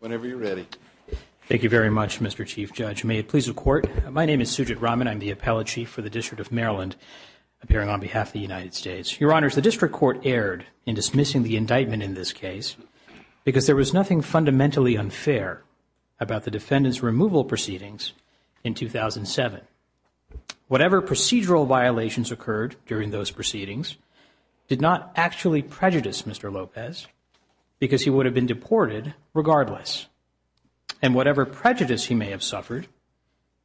Whenever you're ready. Thank you very much, Mr. Chief Judge. May it please the Court. My name is Sujit Raman. I'm the Appellate Chief for the District of Maryland, appearing on behalf of the United States. Your Honors, the District Court erred in dismissing the indictment in this case because there was nothing fundamentally unfair about the defendant's Whatever procedural violations occurred during those proceedings did not actually prejudice Mr. Lopez because he would have been deported regardless. And whatever prejudice he may have suffered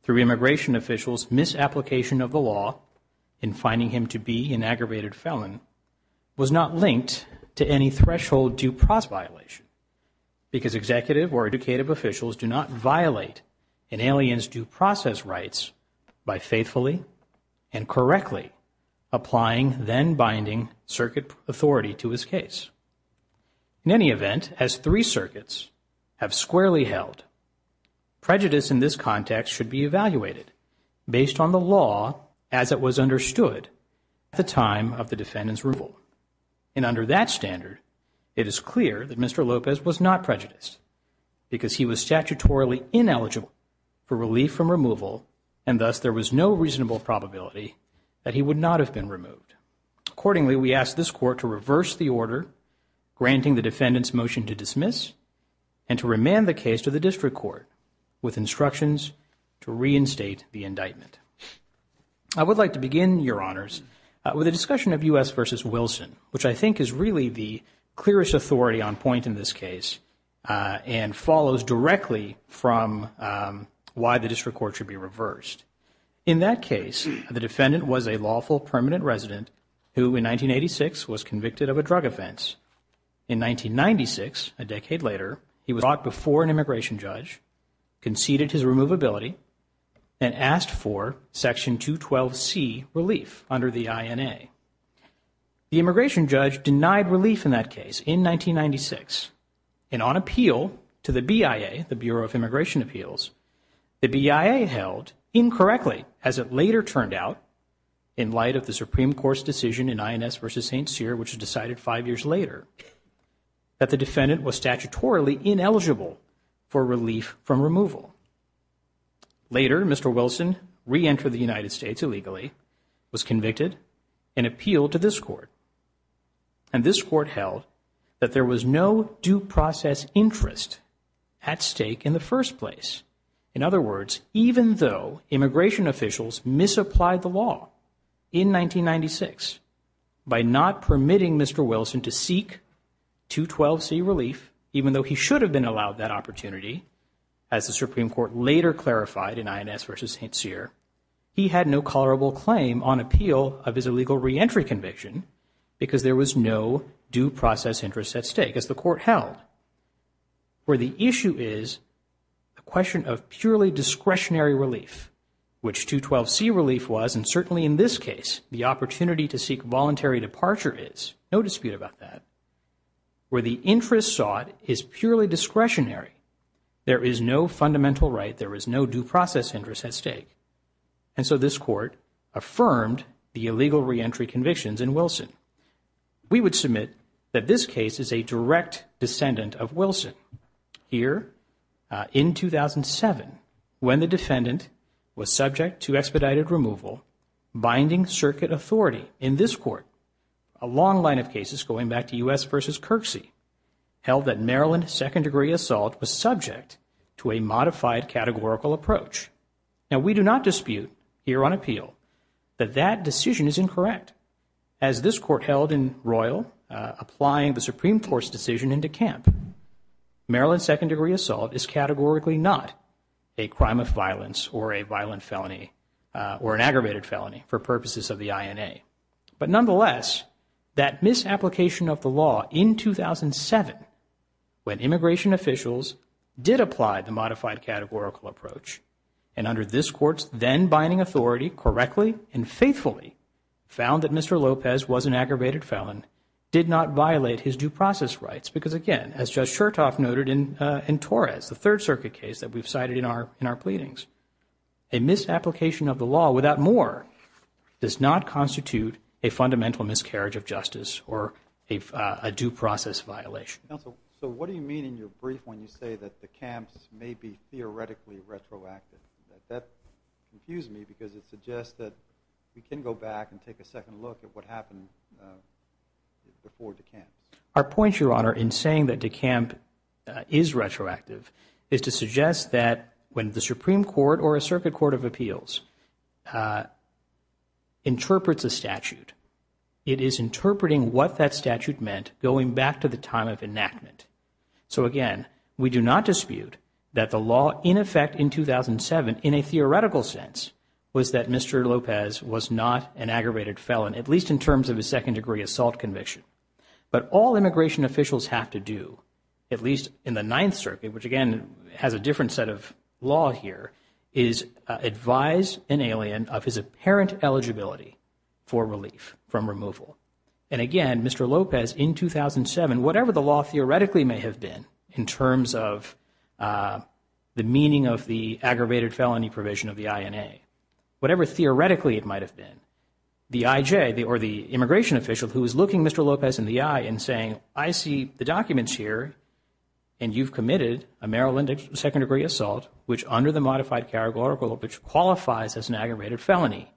through immigration officials' misapplication of the law in finding him to be an aggravated felon was not linked to any threshold due process violation because executive or educative officials do not violate an alien's due process rights by faithfully and correctly applying then-binding circuit authority to his case. In any event, as three circuits have squarely held, prejudice in this context should be evaluated based on the law as it was understood at the time of the defendant's removal. And under that standard, it is clear that Mr. Lopez was not prejudiced because he was statutorily ineligible for relief from removal and thus there was no reasonable probability that he would not have been removed. Accordingly, we ask this Court to reverse the order granting the defendant's motion to dismiss and to remand the case to the District Court with instructions to reinstate the indictment. I would like to begin, Your Honors, with a discussion of U.S. v. Wilson, which I think is really the clearest authority on point in this case and follows directly from why the District Court should be reversed. In that case, the defendant was a lawful permanent resident who in 1986 was convicted of a drug offense. In 1996, a decade later, he was brought before an immigration judge, conceded his removability, and asked for Section 212C relief under the INA. The immigration judge denied relief in that case in 1996 and on appeal to the BIA, the Bureau of Immigration Appeals, the BIA held incorrectly, as it later turned out in light of the Supreme Court's decision in INS v. St. Cyr, which was decided five years later, that the defendant was statutorily ineligible for relief from removal. Later, Mr. Wilson reentered the United States illegally, was convicted, and appealed to this Court. And this Court held that there was no due process interest at stake in the first place. In other words, even though immigration officials misapplied the law in 1996 by not permitting Mr. Wilson to seek 212C relief, even though he should have been allowed that opportunity, as the Supreme Court later clarified in INS v. St. Cyr, he had no tolerable claim on appeal of his illegal reentry conviction because there was no due process interest at stake, as the Court held. Where the issue is the question of purely discretionary relief, which 212C relief was, and certainly in this case, the opportunity to seek voluntary departure is, no dispute about that, where the interest sought is purely discretionary. There is no fundamental right, there is no due process interest at stake. And so this Court affirmed the illegal reentry convictions in Wilson. We would submit that this case is a direct descendant of Wilson. Here, in 2007, when the defendant was subject to expedited removal, binding circuit authority in this Court, a long line of cases going back to U.S. v. Kirksey, held that Maryland second-degree assault was subject to a modified categorical approach. Now, we do not dispute here on appeal that that decision is incorrect. As this Court held in Royal, applying the Supreme Court's decision into camp, Maryland second-degree assault is categorically not a crime of violence or a violent felony or an aggravated felony for purposes of the INA. But nonetheless, that misapplication of the law in 2007, when immigration officials did apply the modified categorical approach, and under this Court's then-binding authority, correctly and faithfully found that Mr. Lopez was an aggravated felon, did not violate his due process rights. Because again, as Judge Chertoff noted in Torres, the Third Circuit case that we've cited in our pleadings, a misapplication of the law without more does not constitute a fundamental miscarriage of justice or a due process violation. Counsel, so what do you mean in your brief when you say that the camps may be theoretically retroactive? That confused me because it suggests that we can go back and take a second look at what happened before the camp. Our point, Your Honor, in saying that the camp is retroactive is to suggest that when the Supreme Court or a Circuit Court of Appeals interprets a statute, it is interpreting what that statute meant going back to the time of enactment. So again, we do not dispute that the law in effect in 2007, in a theoretical sense, was that Mr. Lopez was not an aggravated felon, at least in terms of his second-degree assault conviction. But all immigration officials have to do, at least in the Ninth Circuit, which again has a different set of law here, is advise an alien of his apparent eligibility for relief from removal. And again, Mr. Lopez in 2007, whatever the law theoretically may have been in terms of the meaning of the aggravated felony provision of the INA, whatever theoretically it might have been, the IJ, or the immigration official who is looking Mr. Lopez in the eye and saying, I see the documents here and you've committed a Maryland second-degree assault, which under the modified categorical, which qualifies as an aggravated felony,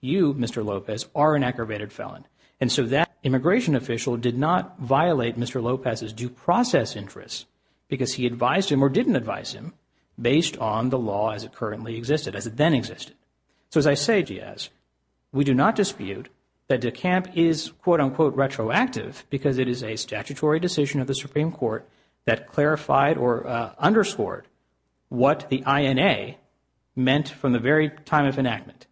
you, Mr. Lopez, are an aggravated felon. And so that immigration official did not violate Mr. Lopez's due process interests because he advised him or didn't advise him based on the law as it currently existed, as it then existed. So as I say, Giaz, we do not dispute that DeCamp is, quote-unquote, retroactive because it is a statutory decision of the Supreme Court that clarified or underscored what the INA meant from the very time of enactment.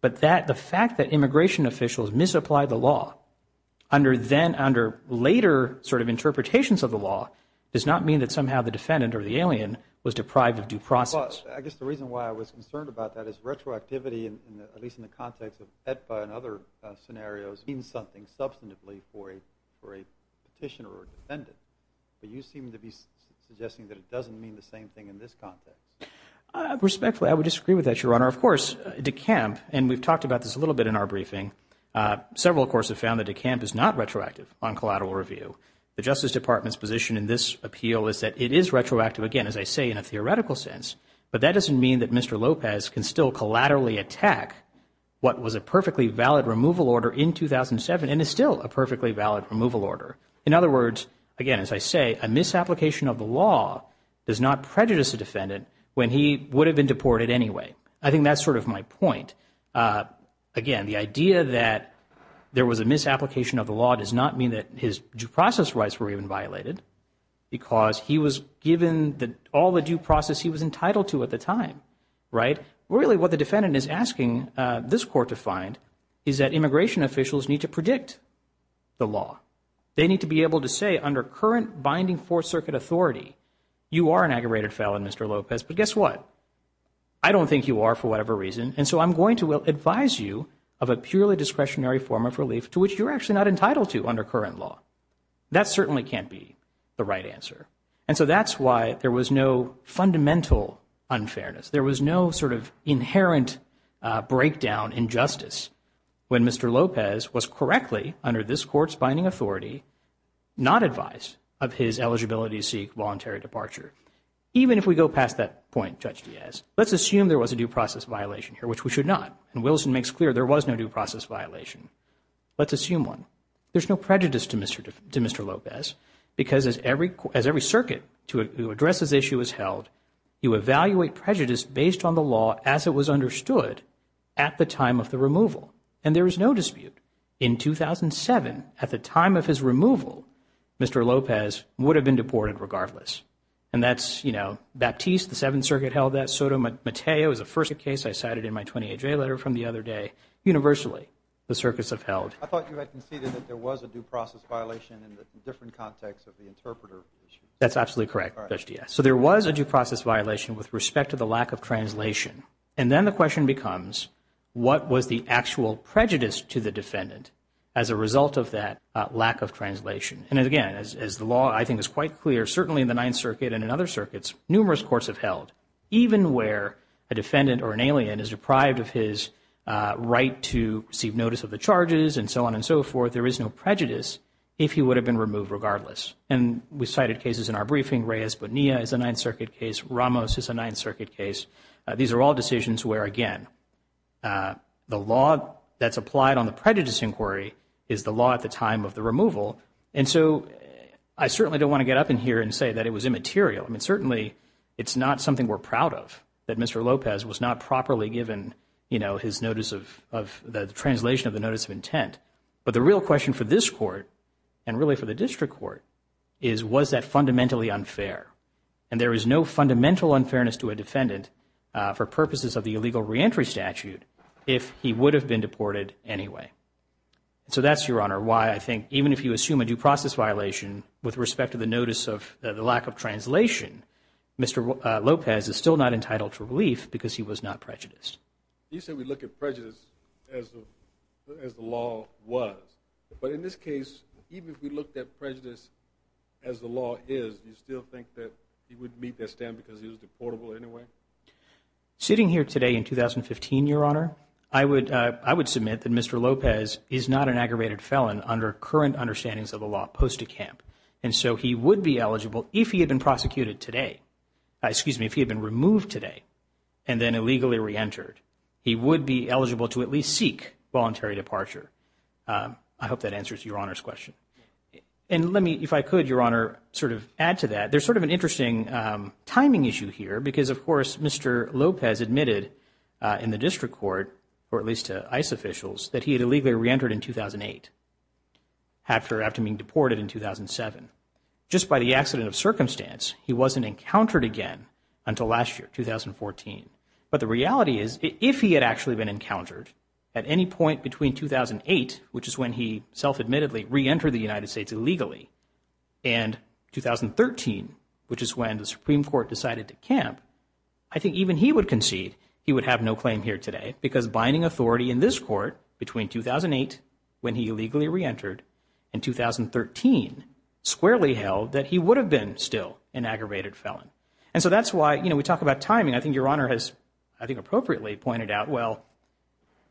But the fact that immigration officials misapplied the law under later sort of interpretations of the law does not mean that somehow the defendant or the alien was deprived of due process. Well, I guess the reason why I was concerned about that is retroactivity, at least in the context of AEDPA and other scenarios, means something substantively for a petitioner or a defendant. But you seem to be suggesting that it doesn't mean the same thing in this context. Respectfully, I would disagree with that, Your Honor. Of course, DeCamp, and we've talked about this a little bit in our briefing, several, of course, have found that DeCamp is not retroactive on collateral review. The Justice Department's position in this appeal is that it is retroactive, again, as I say, in a theoretical sense. But that doesn't mean that Mr. Lopez can still collaterally attack what was a perfectly valid removal order in 2007 and is still a perfectly valid removal order. In other words, again, as I say, a misapplication of the law does not prejudice a defendant when he would have been deported anyway. I think that's sort of my point. Again, the idea that there was a misapplication of the law does not mean that his due process rights were even violated, because he was given all the due process he was entitled to at the time. Really, what the defendant is asking this Court to find is that immigration officials need to predict the law. They need to be able to say, under current binding Fourth Circuit authority, you are an aggravated felon, Mr. Lopez, but guess what? I don't think you are for whatever reason, and so I'm going to advise you of a purely discretionary form of relief to which you're actually not entitled to under current law. That certainly can't be the right answer. And so that's why there was no fundamental unfairness. There was no sort of inherent breakdown in justice when Mr. Lopez was correctly, under this Court's binding authority, not advised of his eligibility to seek voluntary departure. Even if we go past that point, Judge Diaz, let's assume there was a due process violation here, which we should not, and Wilson makes clear there was no due process violation. Let's assume one. There's no prejudice to Mr. Lopez, because as every circuit to address this issue is held, you evaluate prejudice based on the law as it was understood at the time of the removal, and there is no dispute. In 2007, at the time of his removal, Mr. Lopez would have been deported regardless. And that's, you know, Baptiste, the Seventh Circuit held that. Sotomayor is the first case I cited in my 28-J letter from the other day. Universally, the circuits have held. I thought you had conceded that there was a due process violation in the different context of the interpreter issue. That's absolutely correct, Judge Diaz. So there was a due process violation with respect to the lack of translation. And then the question becomes, what was the actual prejudice to the defendant as a result of that lack of translation? And again, as the law, I think, is quite clear, certainly in the Ninth Circuit and in other circuits, numerous courts have held even where a defendant or an alien is deprived of his right to receive notice of the charges and so on and so forth, there is no prejudice if he would have been removed regardless. And we cited cases in our briefing. Reyes Bonilla is a Ninth Circuit case. Ramos is a Ninth Circuit case. These are all decisions where, again, the law that's applied on the prejudice inquiry is the law at the time of the removal. And so I certainly don't want to get up in here and say that it was immaterial. I mean, certainly it's not something we're proud of, that Mr. Lopez was not properly given, you know, his notice of the translation of the notice of intent. But the real question for this court and really for the district court is, was that fundamentally unfair? And there is no fundamental unfairness to a defendant for purposes of the illegal reentry statute if he would have been deported anyway. So that's, Your Honor, why I think even if you assume a due process violation with respect to the notice of the lack of translation, Mr. Lopez is still not entitled for relief because he was not prejudiced. You said we look at prejudice as the law was. But in this case, even if we looked at prejudice as the law is, do you still think that he would meet that stand because he was deportable anyway? Sitting here today in 2015, Your Honor, I would, I would submit that Mr. Lopez is not an aggravated felon under current understandings of the law post-decamp. And so he would be eligible if he had been prosecuted today. Excuse me, if he had been removed today and then illegally reentered, he would be eligible to at least seek voluntary departure. I hope that answers Your Honor's question. And let me, if I could, Your Honor, sort of add to that. There's sort of an interesting timing issue here because, of course, Mr. Lopez admitted in the district court, or at least to ICE officials, that he had illegally reentered in 2008 after, after being deported in 2007. Just by the accident of circumstance, he wasn't encountered again until last year, 2014. But the reality is, if he had actually been encountered at any point between 2008, which is when he self-admittedly reentered the United States illegally, and 2013, which is when the Supreme Court decided to camp, I think even he would concede he would have no claim here today because binding authority in this court between 2008, when he illegally reentered, and 2013 squarely held that he would have been still an aggravated felon. And so that's why, you know, we talk about timing. I think Your Honor has, I think, appropriately pointed out, well,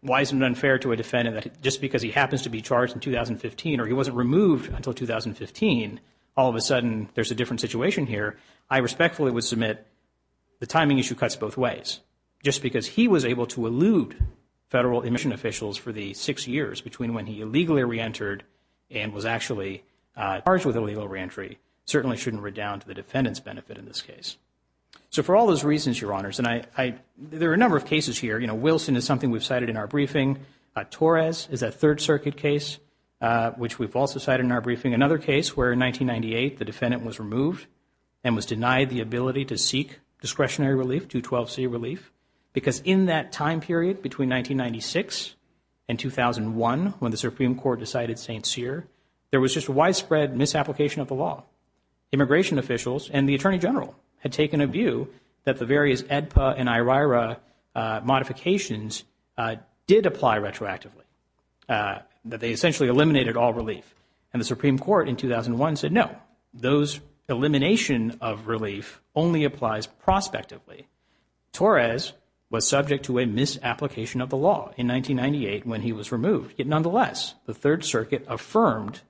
why is it unfair to a defendant that just because he happens to be charged in 2015 or he wasn't removed until 2015, all of a sudden there's a different situation here? I respectfully would submit the timing issue cuts both ways. Just because he was able to elude federal immigration officials for the six years between when he illegally reentered and was actually charged with illegal reentry certainly shouldn't redound to the defendant's benefit in this case. So for all those reasons, Your Honors, and I, I, there are a number of cases here. You know, Wilson is something we've cited in our briefing. Torres is a Third Circuit case, which we've also cited in our briefing. Another case where in 1998 the defendant was removed and was denied the ability to seek discretionary relief, 212C relief, because in that time period between 1996 and 2001, when the Supreme Court decided St. Cyr, there was just a widespread misapplication of the law. Immigration officials and the Attorney General had taken a view that the various AEDPA and IRIRA modifications did apply retroactively, that they essentially eliminated all relief. And the Supreme Court in 2001 said no, those elimination of relief only applies prospectively. Torres was subject to a misapplication of the law in 1998 when he was removed. Yet nonetheless, the Third Circuit affirmed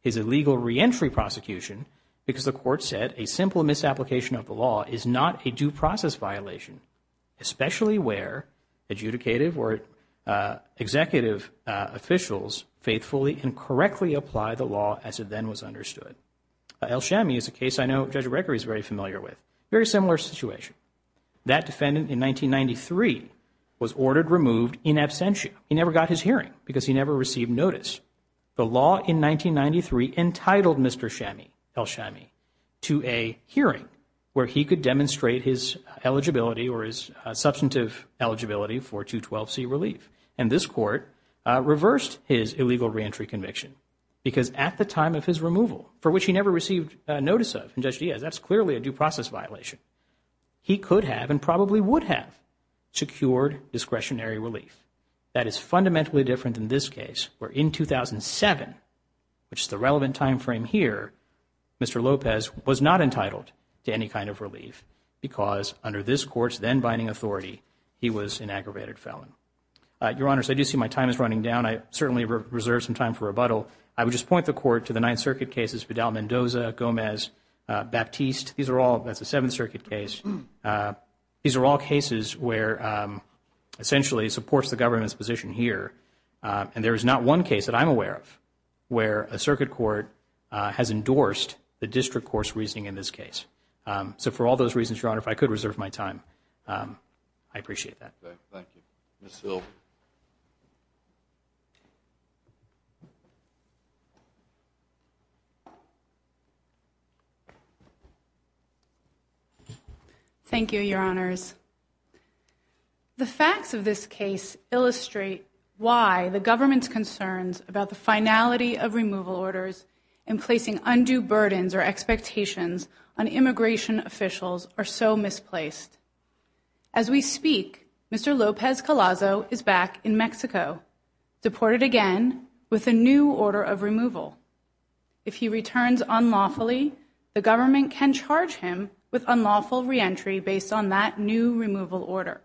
his illegal reentry prosecution because the court said a simple misapplication of the law is not a due process violation, especially where adjudicative or executive officials faithfully and correctly apply the law as it then was understood. El-Shami is a case I know Judge Gregory is very familiar with. Very similar situation. That defendant in 1993 was ordered removed in absentia. He never got his hearing because he never received notice. The law in 1993 entitled Mr. El-Shami to a hearing where he could demonstrate his eligibility or his substantive eligibility for 212C relief. And this court reversed his illegal reentry conviction because at the time of his removal, for which he never received notice of, and Judge Diaz, that's clearly a due process violation, he could have and probably would have fundamentally different than this case, where in 2007, which is the relevant time frame here, Mr. Lopez was not entitled to any kind of relief because under this court's then-binding authority, he was an aggravated felon. Your Honors, I do see my time is running down. I certainly reserve some time for rebuttal. I would just point the Court to the Ninth Circuit cases, Vidal-Mendoza, Gomez, Baptiste. These are all, that's a Seventh Circuit case. These are all here. And there is not one case that I'm aware of where a Circuit Court has endorsed the district course reasoning in this case. So for all those reasons, Your Honor, if I could reserve my time, I appreciate that. Thank you. Ms. Hill. Thank you, Your Honors. The facts of this case illustrate why the government's concerns about the finality of removal orders and placing undue burdens or expectations on immigration officials are so misplaced. As we speak, Mr. Lopez-Colazo is best known for his work on immigration back in Mexico, deported again with a new order of removal. If he returns unlawfully, the government can charge him with unlawful reentry based on that new removal order.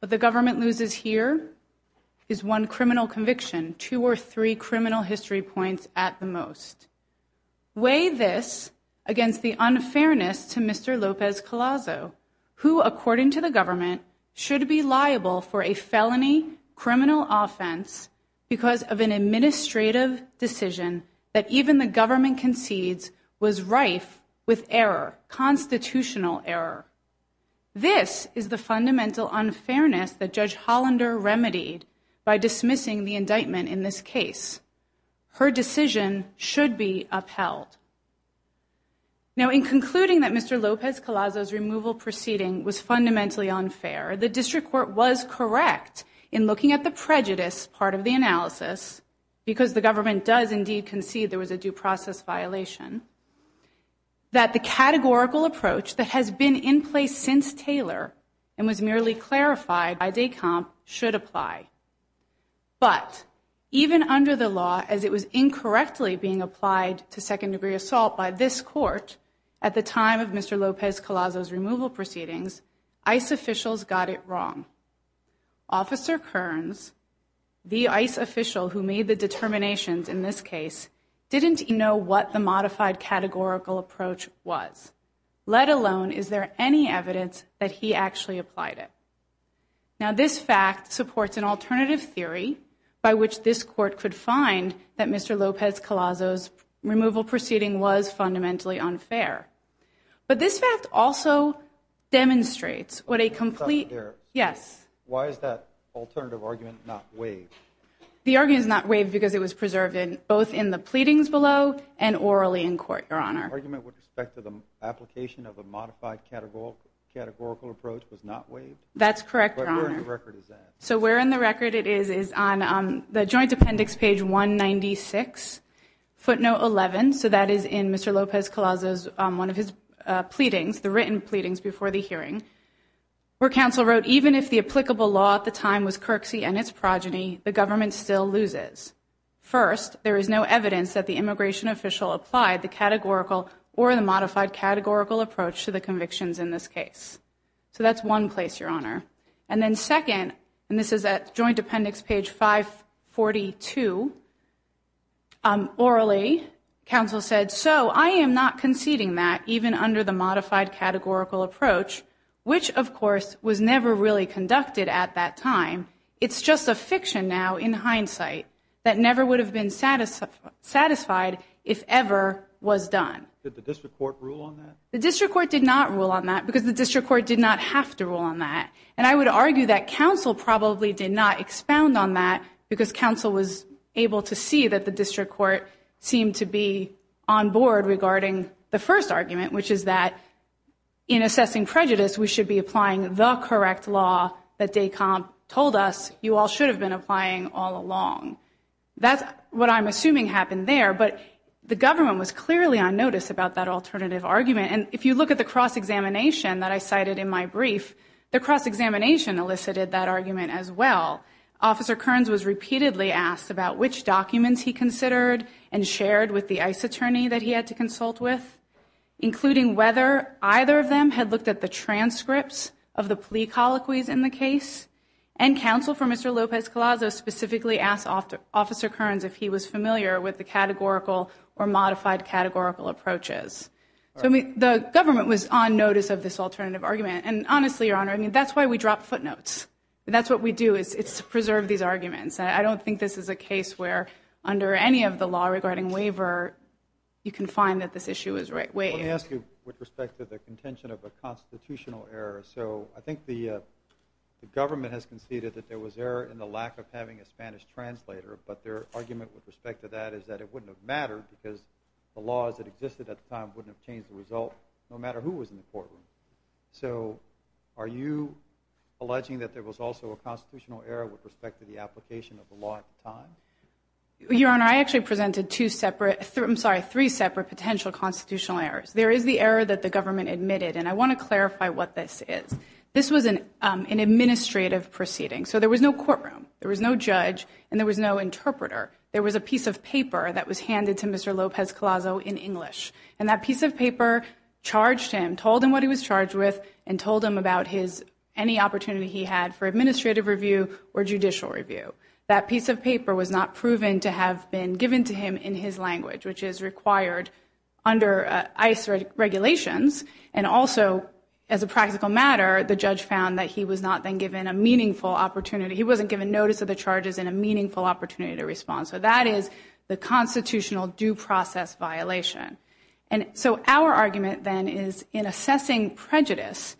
What the government loses here is one criminal conviction, two or three criminal history points at the most. Weigh this against the unfairness to Mr. Lopez-Colazo, who, according to the government, should be liable for a felony criminal offense because of an administrative decision that even the government concedes was rife with error, constitutional error. This is the fundamental unfairness that Judge Hollander remedied by dismissing the indictment in this case. Her decision should be upheld. Now, in concluding that Mr. Lopez-Colazo's removal proceeding was fundamentally unfair, the district court was correct in looking at the prejudice part of the analysis because the government does indeed concede there was a due process violation, that the categorical approach that has been in place since Taylor and was merely clarified by Decomp should apply. But even under the law, as it was incorrectly being applied to second degree assault by this court at the time of Mr. Lopez-Colazo's removal proceedings, ICE officials got it wrong. Officer Kearns, the ICE official who made the determinations in this case, didn't know what the modified categorical approach was, let alone is there any evidence that he actually applied it. Now, this fact supports an alternative theory by which this court could find that Mr. Lopez-Colazo's removal proceeding was fundamentally unfair. But this fact also demonstrates what a complete, yes. Why is that alternative argument not waived? The argument is not waived because it was preserved in both in the pleadings below and orally in court, your honor. Argument with respect to the application of a modified categorical approach was not waived? That's correct, your honor. So where in the record it is, is on the joint appendix page 196, footnote 11. So that is in Mr. Lopez-Colazo's, one of his pleadings, the written pleadings before the hearing, where counsel wrote, even if the applicable law at the time was Kirksey and its progeny, the government still loses. First, there is no evidence that the immigration official applied the categorical or the modified categorical approach to the convictions in this case. So that's one place, your honor. And then second, and this is at joint appendix page 542. Orally, counsel said, so I am not conceding that even under the modified categorical approach, which of course was never really conducted at that time. It's just a fiction now in hindsight that never would have been satisfied if ever was done. Did the district court rule on that? The district court did not rule on that because the district court did not have to rule on that. And I would argue that counsel probably did not expound on that because counsel was able to see that the district court seemed to be on board regarding the first argument, which is that in assessing prejudice, we should be applying the correct law that Descamp told us you all should have been applying all along. That's what I'm assuming happened there. But the government was If you look at the cross-examination that I cited in my brief, the cross-examination elicited that argument as well. Officer Kearns was repeatedly asked about which documents he considered and shared with the ICE attorney that he had to consult with, including whether either of them had looked at the transcripts of the plea colloquies in the case. And counsel for Mr. Lopez-Colazo specifically asked Officer Kearns if he was familiar with the categorical or modified categorical approaches. So I mean, the government was on notice of this alternative argument. And honestly, Your Honor, I mean, that's why we drop footnotes. That's what we do is it's to preserve these arguments. I don't think this is a case where under any of the law regarding waiver, you can find that this issue is right way. Let me ask you with respect to the contention of a constitutional error. So I think the government has conceded that there was error in the lack of having a Spanish translator. But their argument with respect to that is that it wouldn't have mattered because the laws that existed at the time wouldn't have changed the result no matter who was in the courtroom. So are you alleging that there was also a constitutional error with respect to the application of the law at the time? Your Honor, I actually presented two separate, I'm sorry, three separate potential constitutional errors. There is the error that the government admitted, and I want to clarify what this is. This was an administrative proceeding. So there was no courtroom, there was no judge, and there was no interpreter. There was a piece of paper that was in English. And that piece of paper charged him, told him what he was charged with, and told him about any opportunity he had for administrative review or judicial review. That piece of paper was not proven to have been given to him in his language, which is required under ICE regulations. And also, as a practical matter, the judge found that he was not then given a meaningful opportunity. He wasn't given notice of the charges and a meaningful opportunity to respond. So that is the constitutional due process violation. And so our argument then is, in assessing prejudice,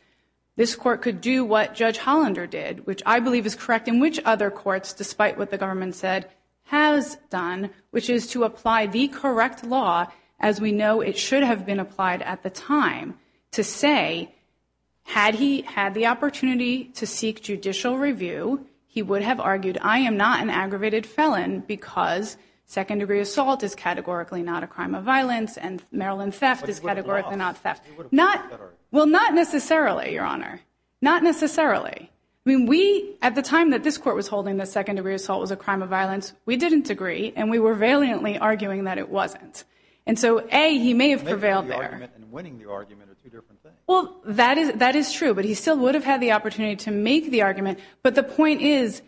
this court could do what Judge Hollander did, which I believe is correct, and which other courts, despite what the government said, has done, which is to apply the correct law, as we know it should have been applied at the time, to say, had he had the opportunity to seek judicial review, he would have argued, I am not an aggravated felon because second degree assault is categorically not a crime of violence, and Maryland theft is categorically not theft. Well, not necessarily, Your Honor. Not necessarily. I mean, we, at the time that this court was holding that second degree assault was a crime of violence, we didn't agree, and we were valiantly arguing that it wasn't. And so, A, he may have prevailed there. Winning the argument are two different things. Well, that is true, but he still would have had the opportunity to make the argument. But the point is,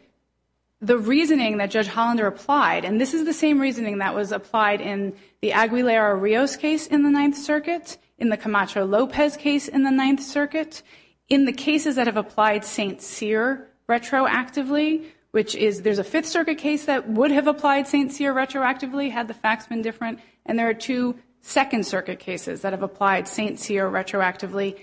the reasoning that Judge Hollander applied, and this is the same reasoning that was applied in the Aguilera-Rios case in the Ninth Circuit, in the Camacho-Lopez case in the Ninth Circuit, in the cases that have applied St. Cyr retroactively, which is, there's a Fifth Circuit case that would have applied St. Cyr retroactively, had the facts been different, and there are two Second Circuit cases that have applied St. Cyr retroactively,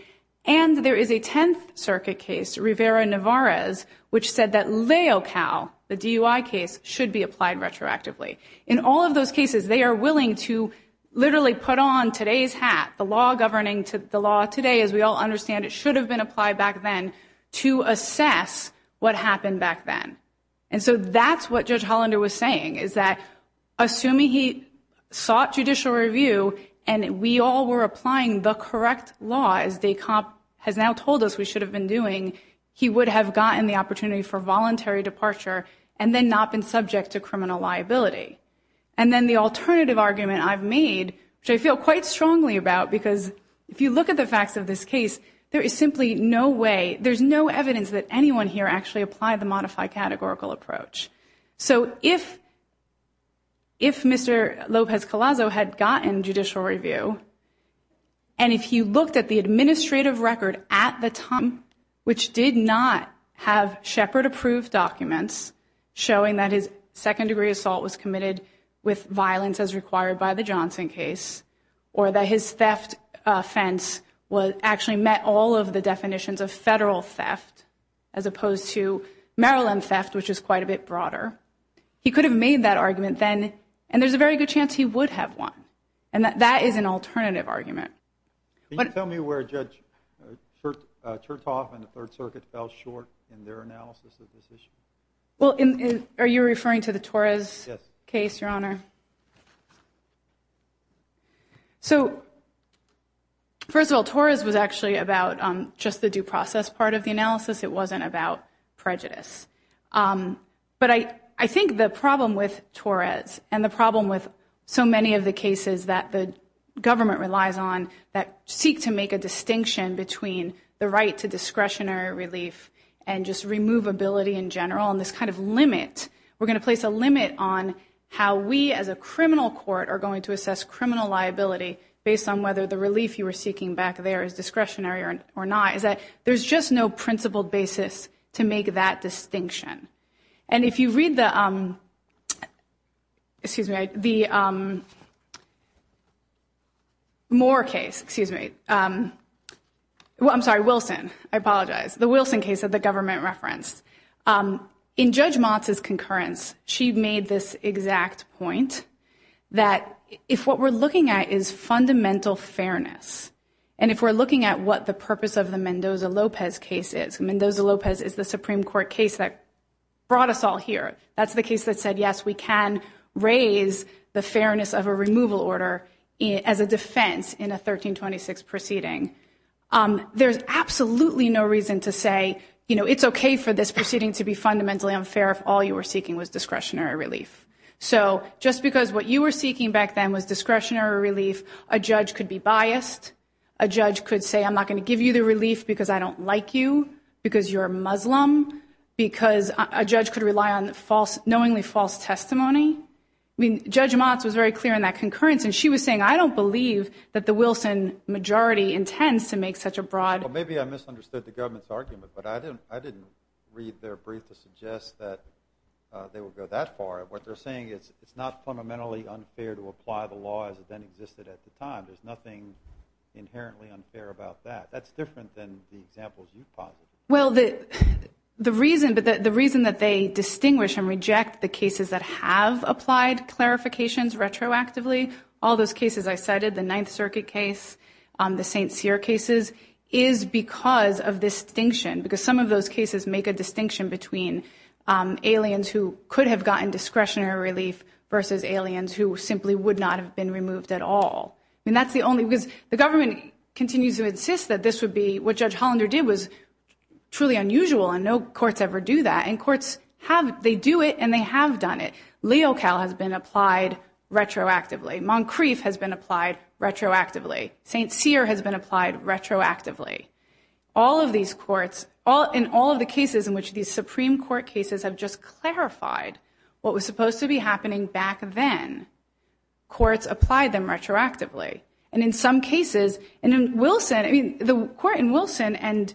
and there is a Tenth Circuit case, Rivera-Nevarez, which said that Leocal, the DUI case, should be applied retroactively. In all of those cases, they are willing to literally put on today's hat, the law governing the law today, as we all understand it should have been applied back then, to assess what happened back then. And so, that's what Judge Hollander was saying, is that assuming he sought judicial review, and we all were applying the correct law, as Descamp has now told us we should have been doing, he would have gotten the opportunity for voluntary departure, and then not been subject to criminal liability. And then the alternative argument I've made, which I feel quite strongly about, because if you look at the facts of this case, there is simply no way, there's no evidence that anyone here actually applied the gotten judicial review. And if you looked at the administrative record at the time, which did not have Shepard-approved documents, showing that his second-degree assault was committed with violence as required by the Johnson case, or that his theft offense actually met all of the definitions of federal theft, as opposed to Maryland theft, which is quite a bit broader, he could have made that argument then, and there's a very good chance he would have won. And that is an alternative argument. Can you tell me where Judge Chertoff and the Third Circuit fell short in their analysis of this issue? Well, are you referring to the Torres case, Your Honor? So, first of all, Torres was actually about just the due process part of the analysis, it wasn't about prejudice. But I think the problem with Torres, and the problem with so many of the cases that the government relies on, that seek to make a distinction between the right to discretionary relief and just removability in general, and this kind of limit, we're going to place a limit on how we as a criminal court are going to assess criminal liability based on whether the relief you were seeking back there is discretionary or not, there's just no principled basis to make that distinction. And if you read the Moore case, excuse me, I'm sorry, Wilson, I apologize, the Wilson case that the government referenced, in Judge Motz's concurrence, she made this exact point, that if what we're looking at fundamental fairness, and if we're looking at what the purpose of the Mendoza-Lopez case is, Mendoza-Lopez is the Supreme Court case that brought us all here, that's the case that said, yes, we can raise the fairness of a removal order as a defense in a 1326 proceeding. There's absolutely no reason to say, you know, it's okay for this proceeding to be fundamentally unfair if all you were seeking was discretionary relief. So, just because what you were seeking back then was discretionary relief, a judge could be biased, a judge could say, I'm not going to give you the relief because I don't like you, because you're a Muslim, because a judge could rely on knowingly false testimony. I mean, Judge Motz was very clear in that concurrence, and she was saying, I don't believe that the Wilson majority intends to make such a broad... Well, maybe I misunderstood the government's argument, but I didn't read their brief to suggest that they would go that far. What they're saying is, it's not fundamentally unfair to apply the law as it then existed at the time. There's nothing inherently unfair about that. That's different than the examples you've posited. Well, the reason that they distinguish and reject the cases that have applied clarifications retroactively, all those cases I cited, the Ninth Circuit case, the St. Cyr cases, is because of this distinction, because some of those cases make a distinction between aliens who could have gotten discretionary relief versus aliens who simply would not have been removed at all. I mean, that's the only... Because the government continues to insist that this would be... What Judge Hollander did was truly unusual, and no courts ever do that. And courts have... They do it, and they have done it. Leocal has been applied retroactively. Moncrief has been applied retroactively. St. Cyr has been applied retroactively. All of these courts, in all of the cases in which these Supreme Court cases have just clarified what was supposed to be happening back then, courts apply them retroactively. And in some cases, and in Wilson, I mean, the court in Wilson and...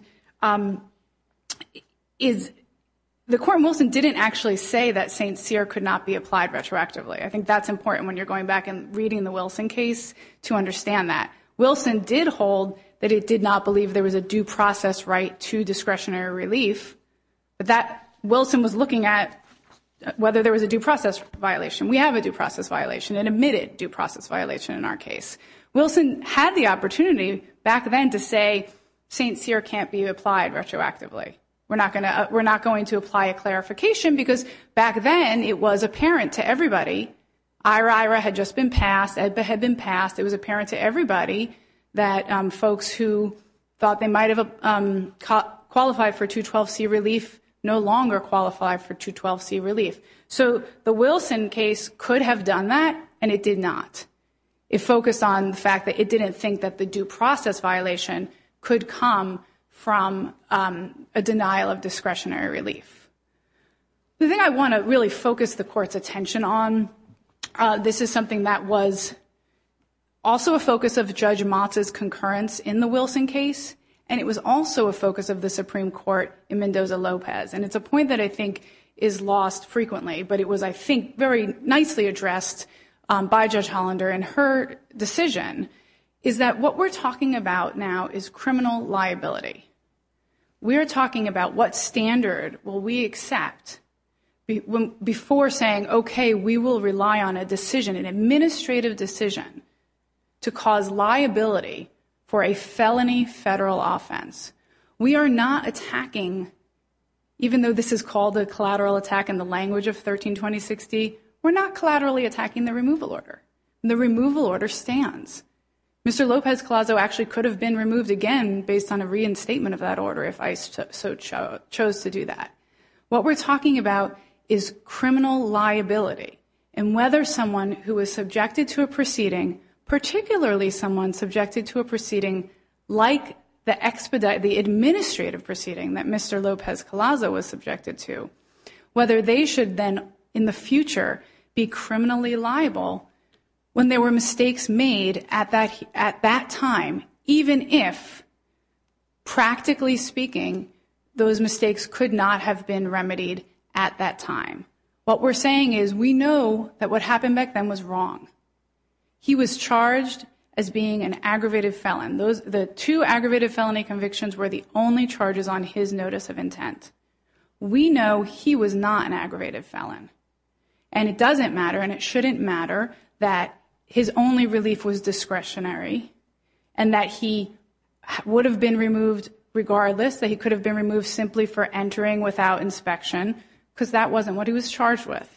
The court in Wilson didn't actually say that St. Cyr could not be applied retroactively. I think that's important when you're going back and reading the Wilson case to understand that. Wilson did hold that it did not believe there was a due process right to discretionary relief, but that Wilson was looking at whether there was a due process violation. We have a due process violation, an admitted due process violation in our case. Wilson had the opportunity back then to say St. Cyr can't be applied retroactively. We're not going to... We're not going to apply a clarification because back then it was apparent to everybody. IRAIRA had just been passed. EDBA had been passed. It was apparent to everybody that folks who thought they might have qualified for 212C relief no longer qualify for 212C relief. So the Wilson case could have done that, and it did not. It focused on the fact that it didn't think that the due process violation could come from a denial of discretionary relief. The thing I want to really focus the court's attention on, this is something that was also a focus of Judge Motz's concurrence in the Wilson case, and it was also a focus of the Supreme Court in Mendoza-Lopez. It's a point that I think is lost frequently, but it was, I think, very nicely addressed by Judge Hollander. Her decision is that what we're talking about now is criminal liability. We are talking about what standard will we accept before saying, okay, we will rely on a decision, an administrative decision, to cause liability for a felony federal offense. We are not attacking, even though this is called a collateral attack in the language of 13-2060, we're not collaterally attacking the removal order. The removal order stands. Mr. Lopez-Clazo actually could have been removed again based on a reinstatement of that order if ICE chose to do that. What we're talking about is criminal liability and whether someone who was subjected to a proceeding, particularly someone subjected to a proceeding like the administrative proceeding that Mr. Lopez-Clazo was subjected to, whether they should then in the future be criminally liable when there were mistakes made at that time, even if, practically speaking, those mistakes could not have been remedied at that time. What we're saying is we know that what happened back then was wrong. He was charged as being an aggravated felon. The two aggravated felony convictions were the only charges on his notice of intent. We know he was not an aggravated felon and it doesn't matter and it shouldn't matter that his only relief was discretionary and that he would have been removed regardless, that he could have been removed simply for entering without inspection because that wasn't what he was charged with.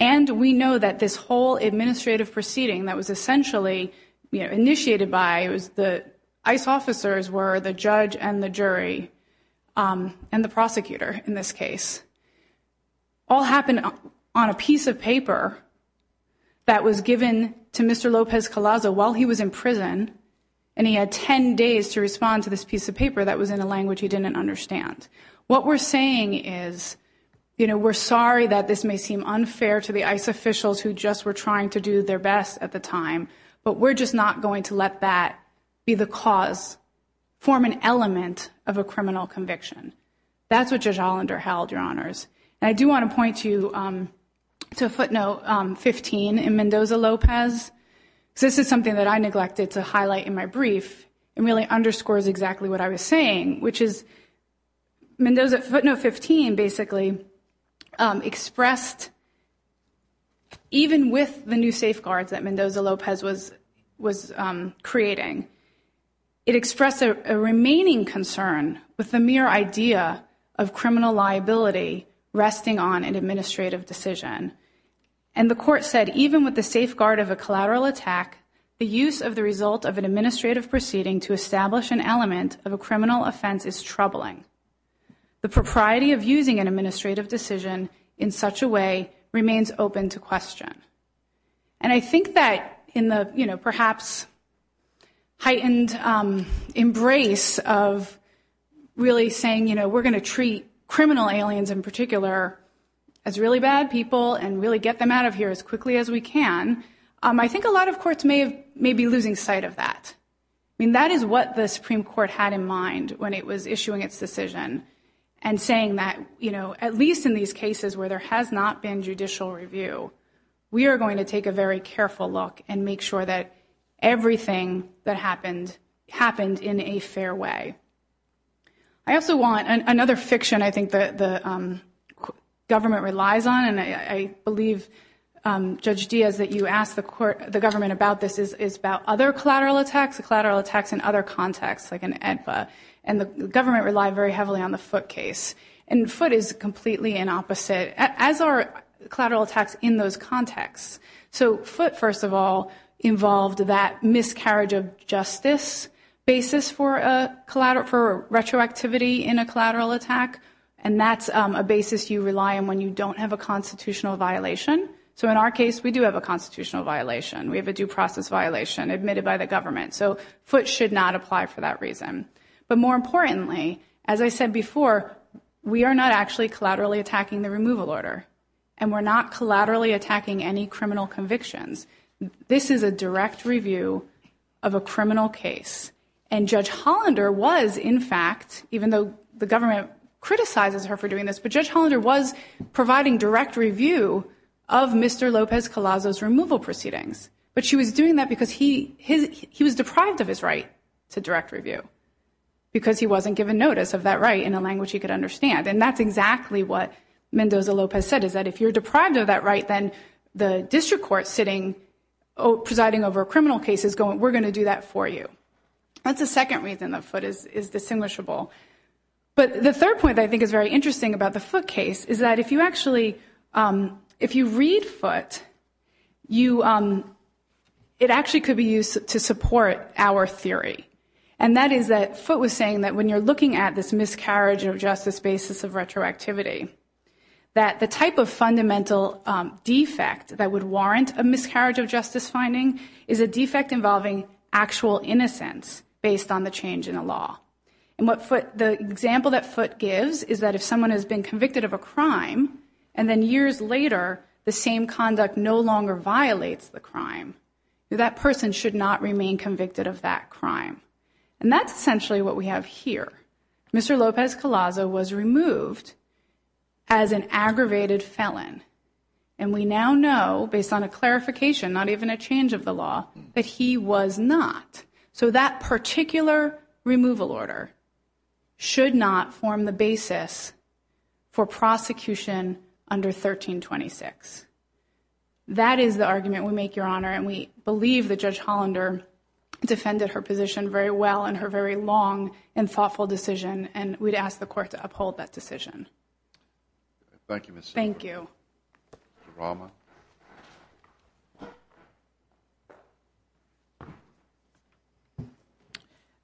And we know that this whole administrative proceeding that was essentially initiated by the ICE officers were the judge and the jury and the prosecutor in this case all happened on a piece of paper that was given to Mr. Lopez-Clazo while he was in prison and he had 10 days to respond to this piece of paper that was in a language he didn't understand. What we're saying is, you know, we're sorry that this may seem unfair to the ICE officials who just were trying to do their best at the time, but we're just not going to let that be the cause, form an element of a criminal conviction. That's what Judge Hollander held, Your Honors. And I do want to point you to footnote 15 in Mendoza-Lopez. This is something that I in my brief and really underscores exactly what I was saying, which is Mendoza footnote 15 basically expressed even with the new safeguards that Mendoza-Lopez was creating, it expressed a remaining concern with the mere idea of criminal liability resting on an administrative decision. And the court said, even with the safeguard of a collateral attack, the use of the result of an administrative proceeding to establish an element of a criminal offense is troubling. The propriety of using an administrative decision in such a way remains open to question. And I think that in the, you know, perhaps heightened embrace of really saying, you know, we're going to treat criminal aliens in particular as really bad people and really get them out of here as quickly as we can. I think a lot of courts may be losing sight of that. I mean, that is what the Supreme Court had in mind when it was issuing its decision and saying that, you know, at least in these cases where there has not been judicial review, we are going to take a very careful look and make sure that everything that happened, happened in a fair way. I also want, another fiction I think that the government relies on, and I believe, Judge Diaz, that you asked the court, the government about this is about other collateral attacks, collateral attacks in other contexts, like in AEDPA. And the government relied very heavily on the Foote case. And Foote is completely an opposite, as are collateral attacks in those contexts. So Foote, first of all, involved that miscarriage of justice basis for retroactivity in a collateral attack. And that's a basis you rely on when you don't have a constitutional violation. So in our case, we do have a constitutional violation. We have a due process violation admitted by the government. So Foote should not apply for that reason. But more importantly, as I said before, we are not actually collaterally attacking the removal order. And we're not collaterally attacking any criminal convictions. This is a direct review of a criminal case. And Judge Hollander was, in fact, even though the government criticizes her for doing this, but Judge Hollander was providing direct review of Mr. Lopez-Colazo's removal proceedings. But she was doing that because he was deprived of his right to direct review because he wasn't given notice of that right in a language he could understand. And that's exactly what if you're deprived of that right, then the district court sitting presiding over a criminal case is going, we're going to do that for you. That's the second reason that Foote is distinguishable. But the third point I think is very interesting about the Foote case is that if you actually, if you read Foote, it actually could be used to support our theory. And that is that Foote was saying that when you're looking at this miscarriage of justice basis of retroactivity, that the type of fundamental defect that would warrant a miscarriage of justice finding is a defect involving actual innocence based on the change in the law. And what Foote, the example that Foote gives is that if someone has been convicted of a crime and then years later the same conduct no longer violates the crime, that person should not remain convicted of that as an aggravated felon. And we now know based on a clarification, not even a change of the law, that he was not. So that particular removal order should not form the basis for prosecution under 1326. That is the argument we make, Your Honor. And we believe that Judge Hollander defended her position very well in her very long and thoughtful decision. And we'd ask the court to uphold that decision. Thank you, Ms. Siebert. Thank you. Mr. Rahma.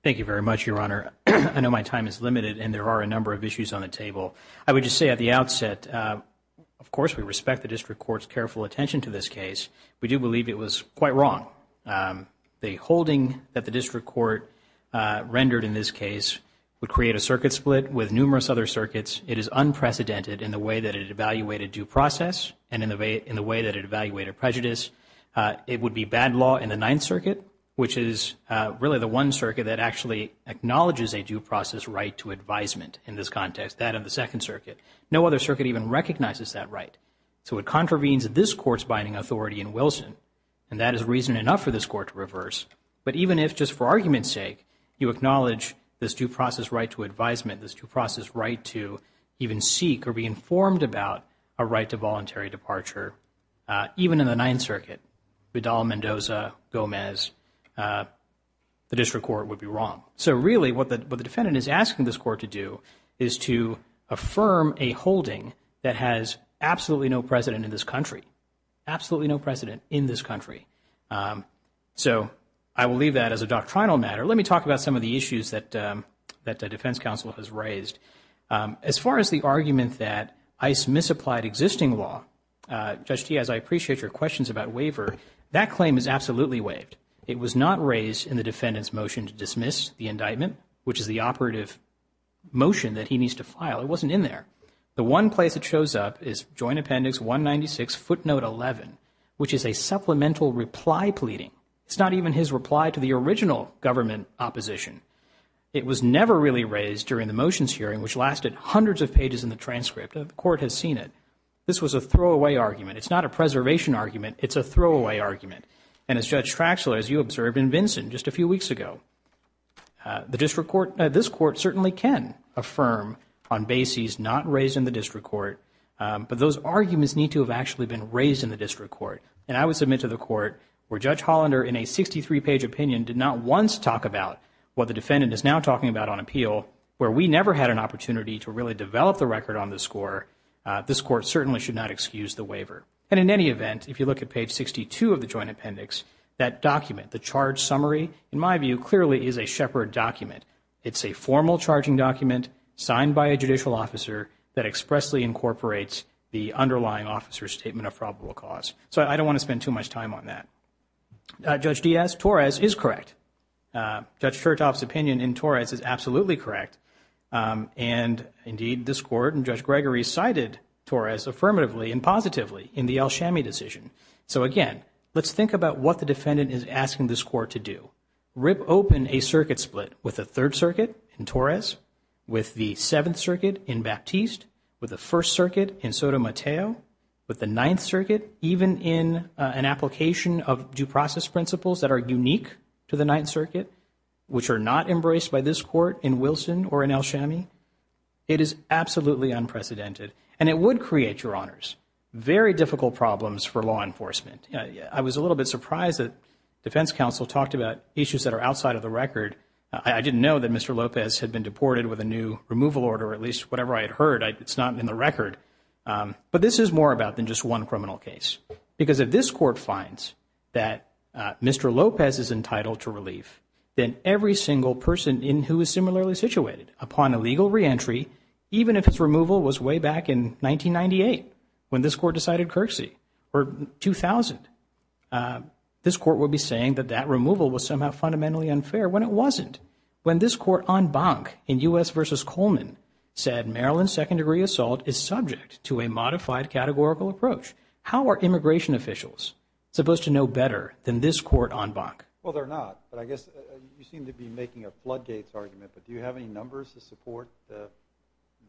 Thank you very much, Your Honor. I know my time is limited and there are a number of issues on the table. I would just say at the outset, of course, we respect the district court's careful attention to this case. We do believe it was quite wrong. The holding that the district court rendered in this case would create a circuit split with numerous other circuits. It is unprecedented in the way that it evaluated due process and in the way that it evaluated prejudice. It would be bad law in the Ninth Circuit, which is really the one circuit that actually acknowledges a due process right to advisement in this context, that of the Second Circuit. No other circuit even recognizes that right. So it contravenes this court's binding authority in But even if just for argument's sake, you acknowledge this due process right to advisement, this due process right to even seek or be informed about a right to voluntary departure, even in the Ninth Circuit, Vidal, Mendoza, Gomez, the district court would be wrong. So really what the defendant is asking this court to do is to affirm a holding that has absolutely no precedent in this country, absolutely no precedent in this country. So I will leave that as a doctrinal matter. Let me talk about some of the issues that that the defense counsel has raised. As far as the argument that ICE misapplied existing law, Judge Diaz, I appreciate your questions about waiver. That claim is absolutely waived. It was not raised in the defendant's motion to dismiss the indictment, which is the operative motion that he needs to file. It wasn't in there. The one place it shows up is Joint Appendix 196, footnote 11, which is a supplemental reply pleading. It's not even his reply to the original government opposition. It was never really raised during the motions hearing, which lasted hundreds of pages in the transcript. The court has seen it. This was a throwaway argument. It's not a preservation argument. It's a throwaway argument. And as Judge Traxler, as you observed in Vinson just a few weeks ago, the district court, this court certainly can affirm on bases not raised in the district court. And I would submit to the court where Judge Hollander, in a 63-page opinion, did not once talk about what the defendant is now talking about on appeal, where we never had an opportunity to really develop the record on the score, this court certainly should not excuse the waiver. And in any event, if you look at page 62 of the Joint Appendix, that document, the charge summary, in my view, clearly is a shepherd document. It's a formal charging document signed by a judicial officer that expressly incorporates the underlying officer's statement of probable cause. So I don't want to spend too much time on that. Judge Diaz, Torres is correct. Judge Chertoff's opinion in Torres is absolutely correct. And indeed, this court and Judge Gregory cited Torres affirmatively and positively in the El Chamy decision. So again, let's think about what the defendant is asking this court to do. Rip open a circuit split with the Third Circuit in Torres, with the Seventh Circuit in Baptiste, with the First Circuit in Sotomayor, with the Ninth Circuit, even in an application of due process principles that are unique to the Ninth Circuit, which are not embraced by this court in Wilson or in El Chamy. It is absolutely unprecedented. And it would create, Your Honors, very difficult problems for law enforcement. I was a little bit surprised that defense counsel talked about issues that are outside of the record. I didn't know that Mr. Lopez was reported with a new removal order, or at least whatever I had heard. It's not in the record. But this is more about than just one criminal case. Because if this court finds that Mr. Lopez is entitled to relief, then every single person in who is similarly situated upon a legal re-entry, even if its removal was way back in 1998, when this court decided curtsy, or 2000, this court would be saying that that removal was somehow fundamentally unfair when it wasn't. When this en banc in U.S. v. Coleman said Maryland's second-degree assault is subject to a modified categorical approach, how are immigration officials supposed to know better than this court en banc? Well, they're not. But I guess you seem to be making a floodgates argument. But do you have any numbers to support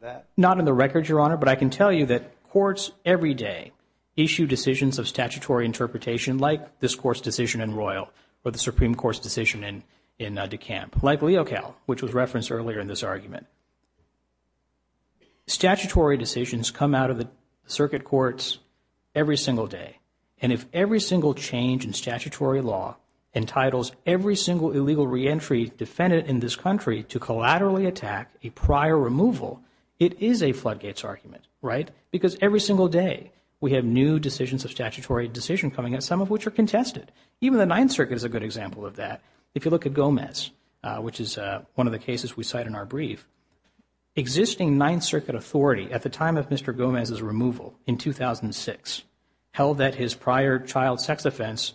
that? Not in the record, Your Honor. But I can tell you that courts every day issue decisions of statutory interpretation, like this court's decision in Royal or the reference earlier in this argument. Statutory decisions come out of the circuit courts every single day. And if every single change in statutory law entitles every single illegal re-entry defendant in this country to collaterally attack a prior removal, it is a floodgates argument, right? Because every single day, we have new decisions of statutory decision coming in, some of which are contested. Even the Ninth Circuit is a good example of that. If you look which is one of the cases we cite in our brief, existing Ninth Circuit authority at the time of Mr. Gomez's removal in 2006 held that his prior child sex offense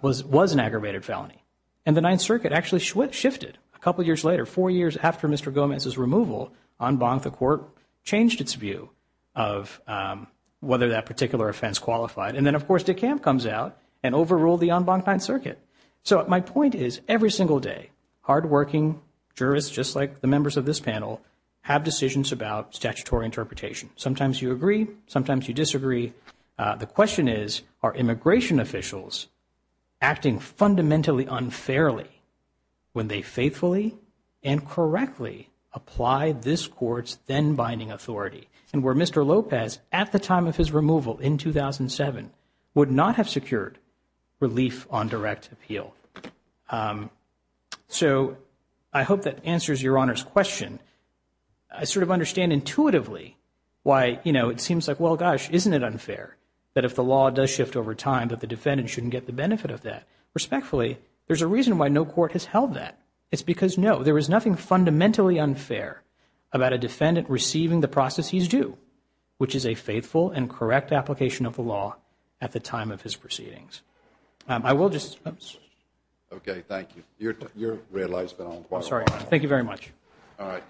was an aggravated felony. And the Ninth Circuit actually shifted a couple years later. Four years after Mr. Gomez's removal, en banc, the court changed its view of whether that particular offense qualified. And then, of course, DeKalb comes out and overruled the en banc Ninth Circuit. So my point is, every single day, hardworking jurists just like the members of this panel have decisions about statutory interpretation. Sometimes you agree, sometimes you disagree. The question is, are immigration officials acting fundamentally unfairly when they faithfully and correctly apply this court's then-binding authority? And where Mr. Lopez, at the time of his removal in 2007, would not have secured relief on direct appeal. So I hope that answers Your Honor's question. I sort of understand intuitively why, you know, it seems like, well, gosh, isn't it unfair that if the law does shift over time that the defendant shouldn't get the benefit of that? Respectfully, there's a reason why no court has held that. It's because, no, there is nothing fundamentally unfair about a defendant receiving the process he's due, which is a faithful and of the law, at the time of his proceedings. I will just, oops. Okay. Thank you. Your red light's been on quite a while. I'm sorry. Thank you very much. All right.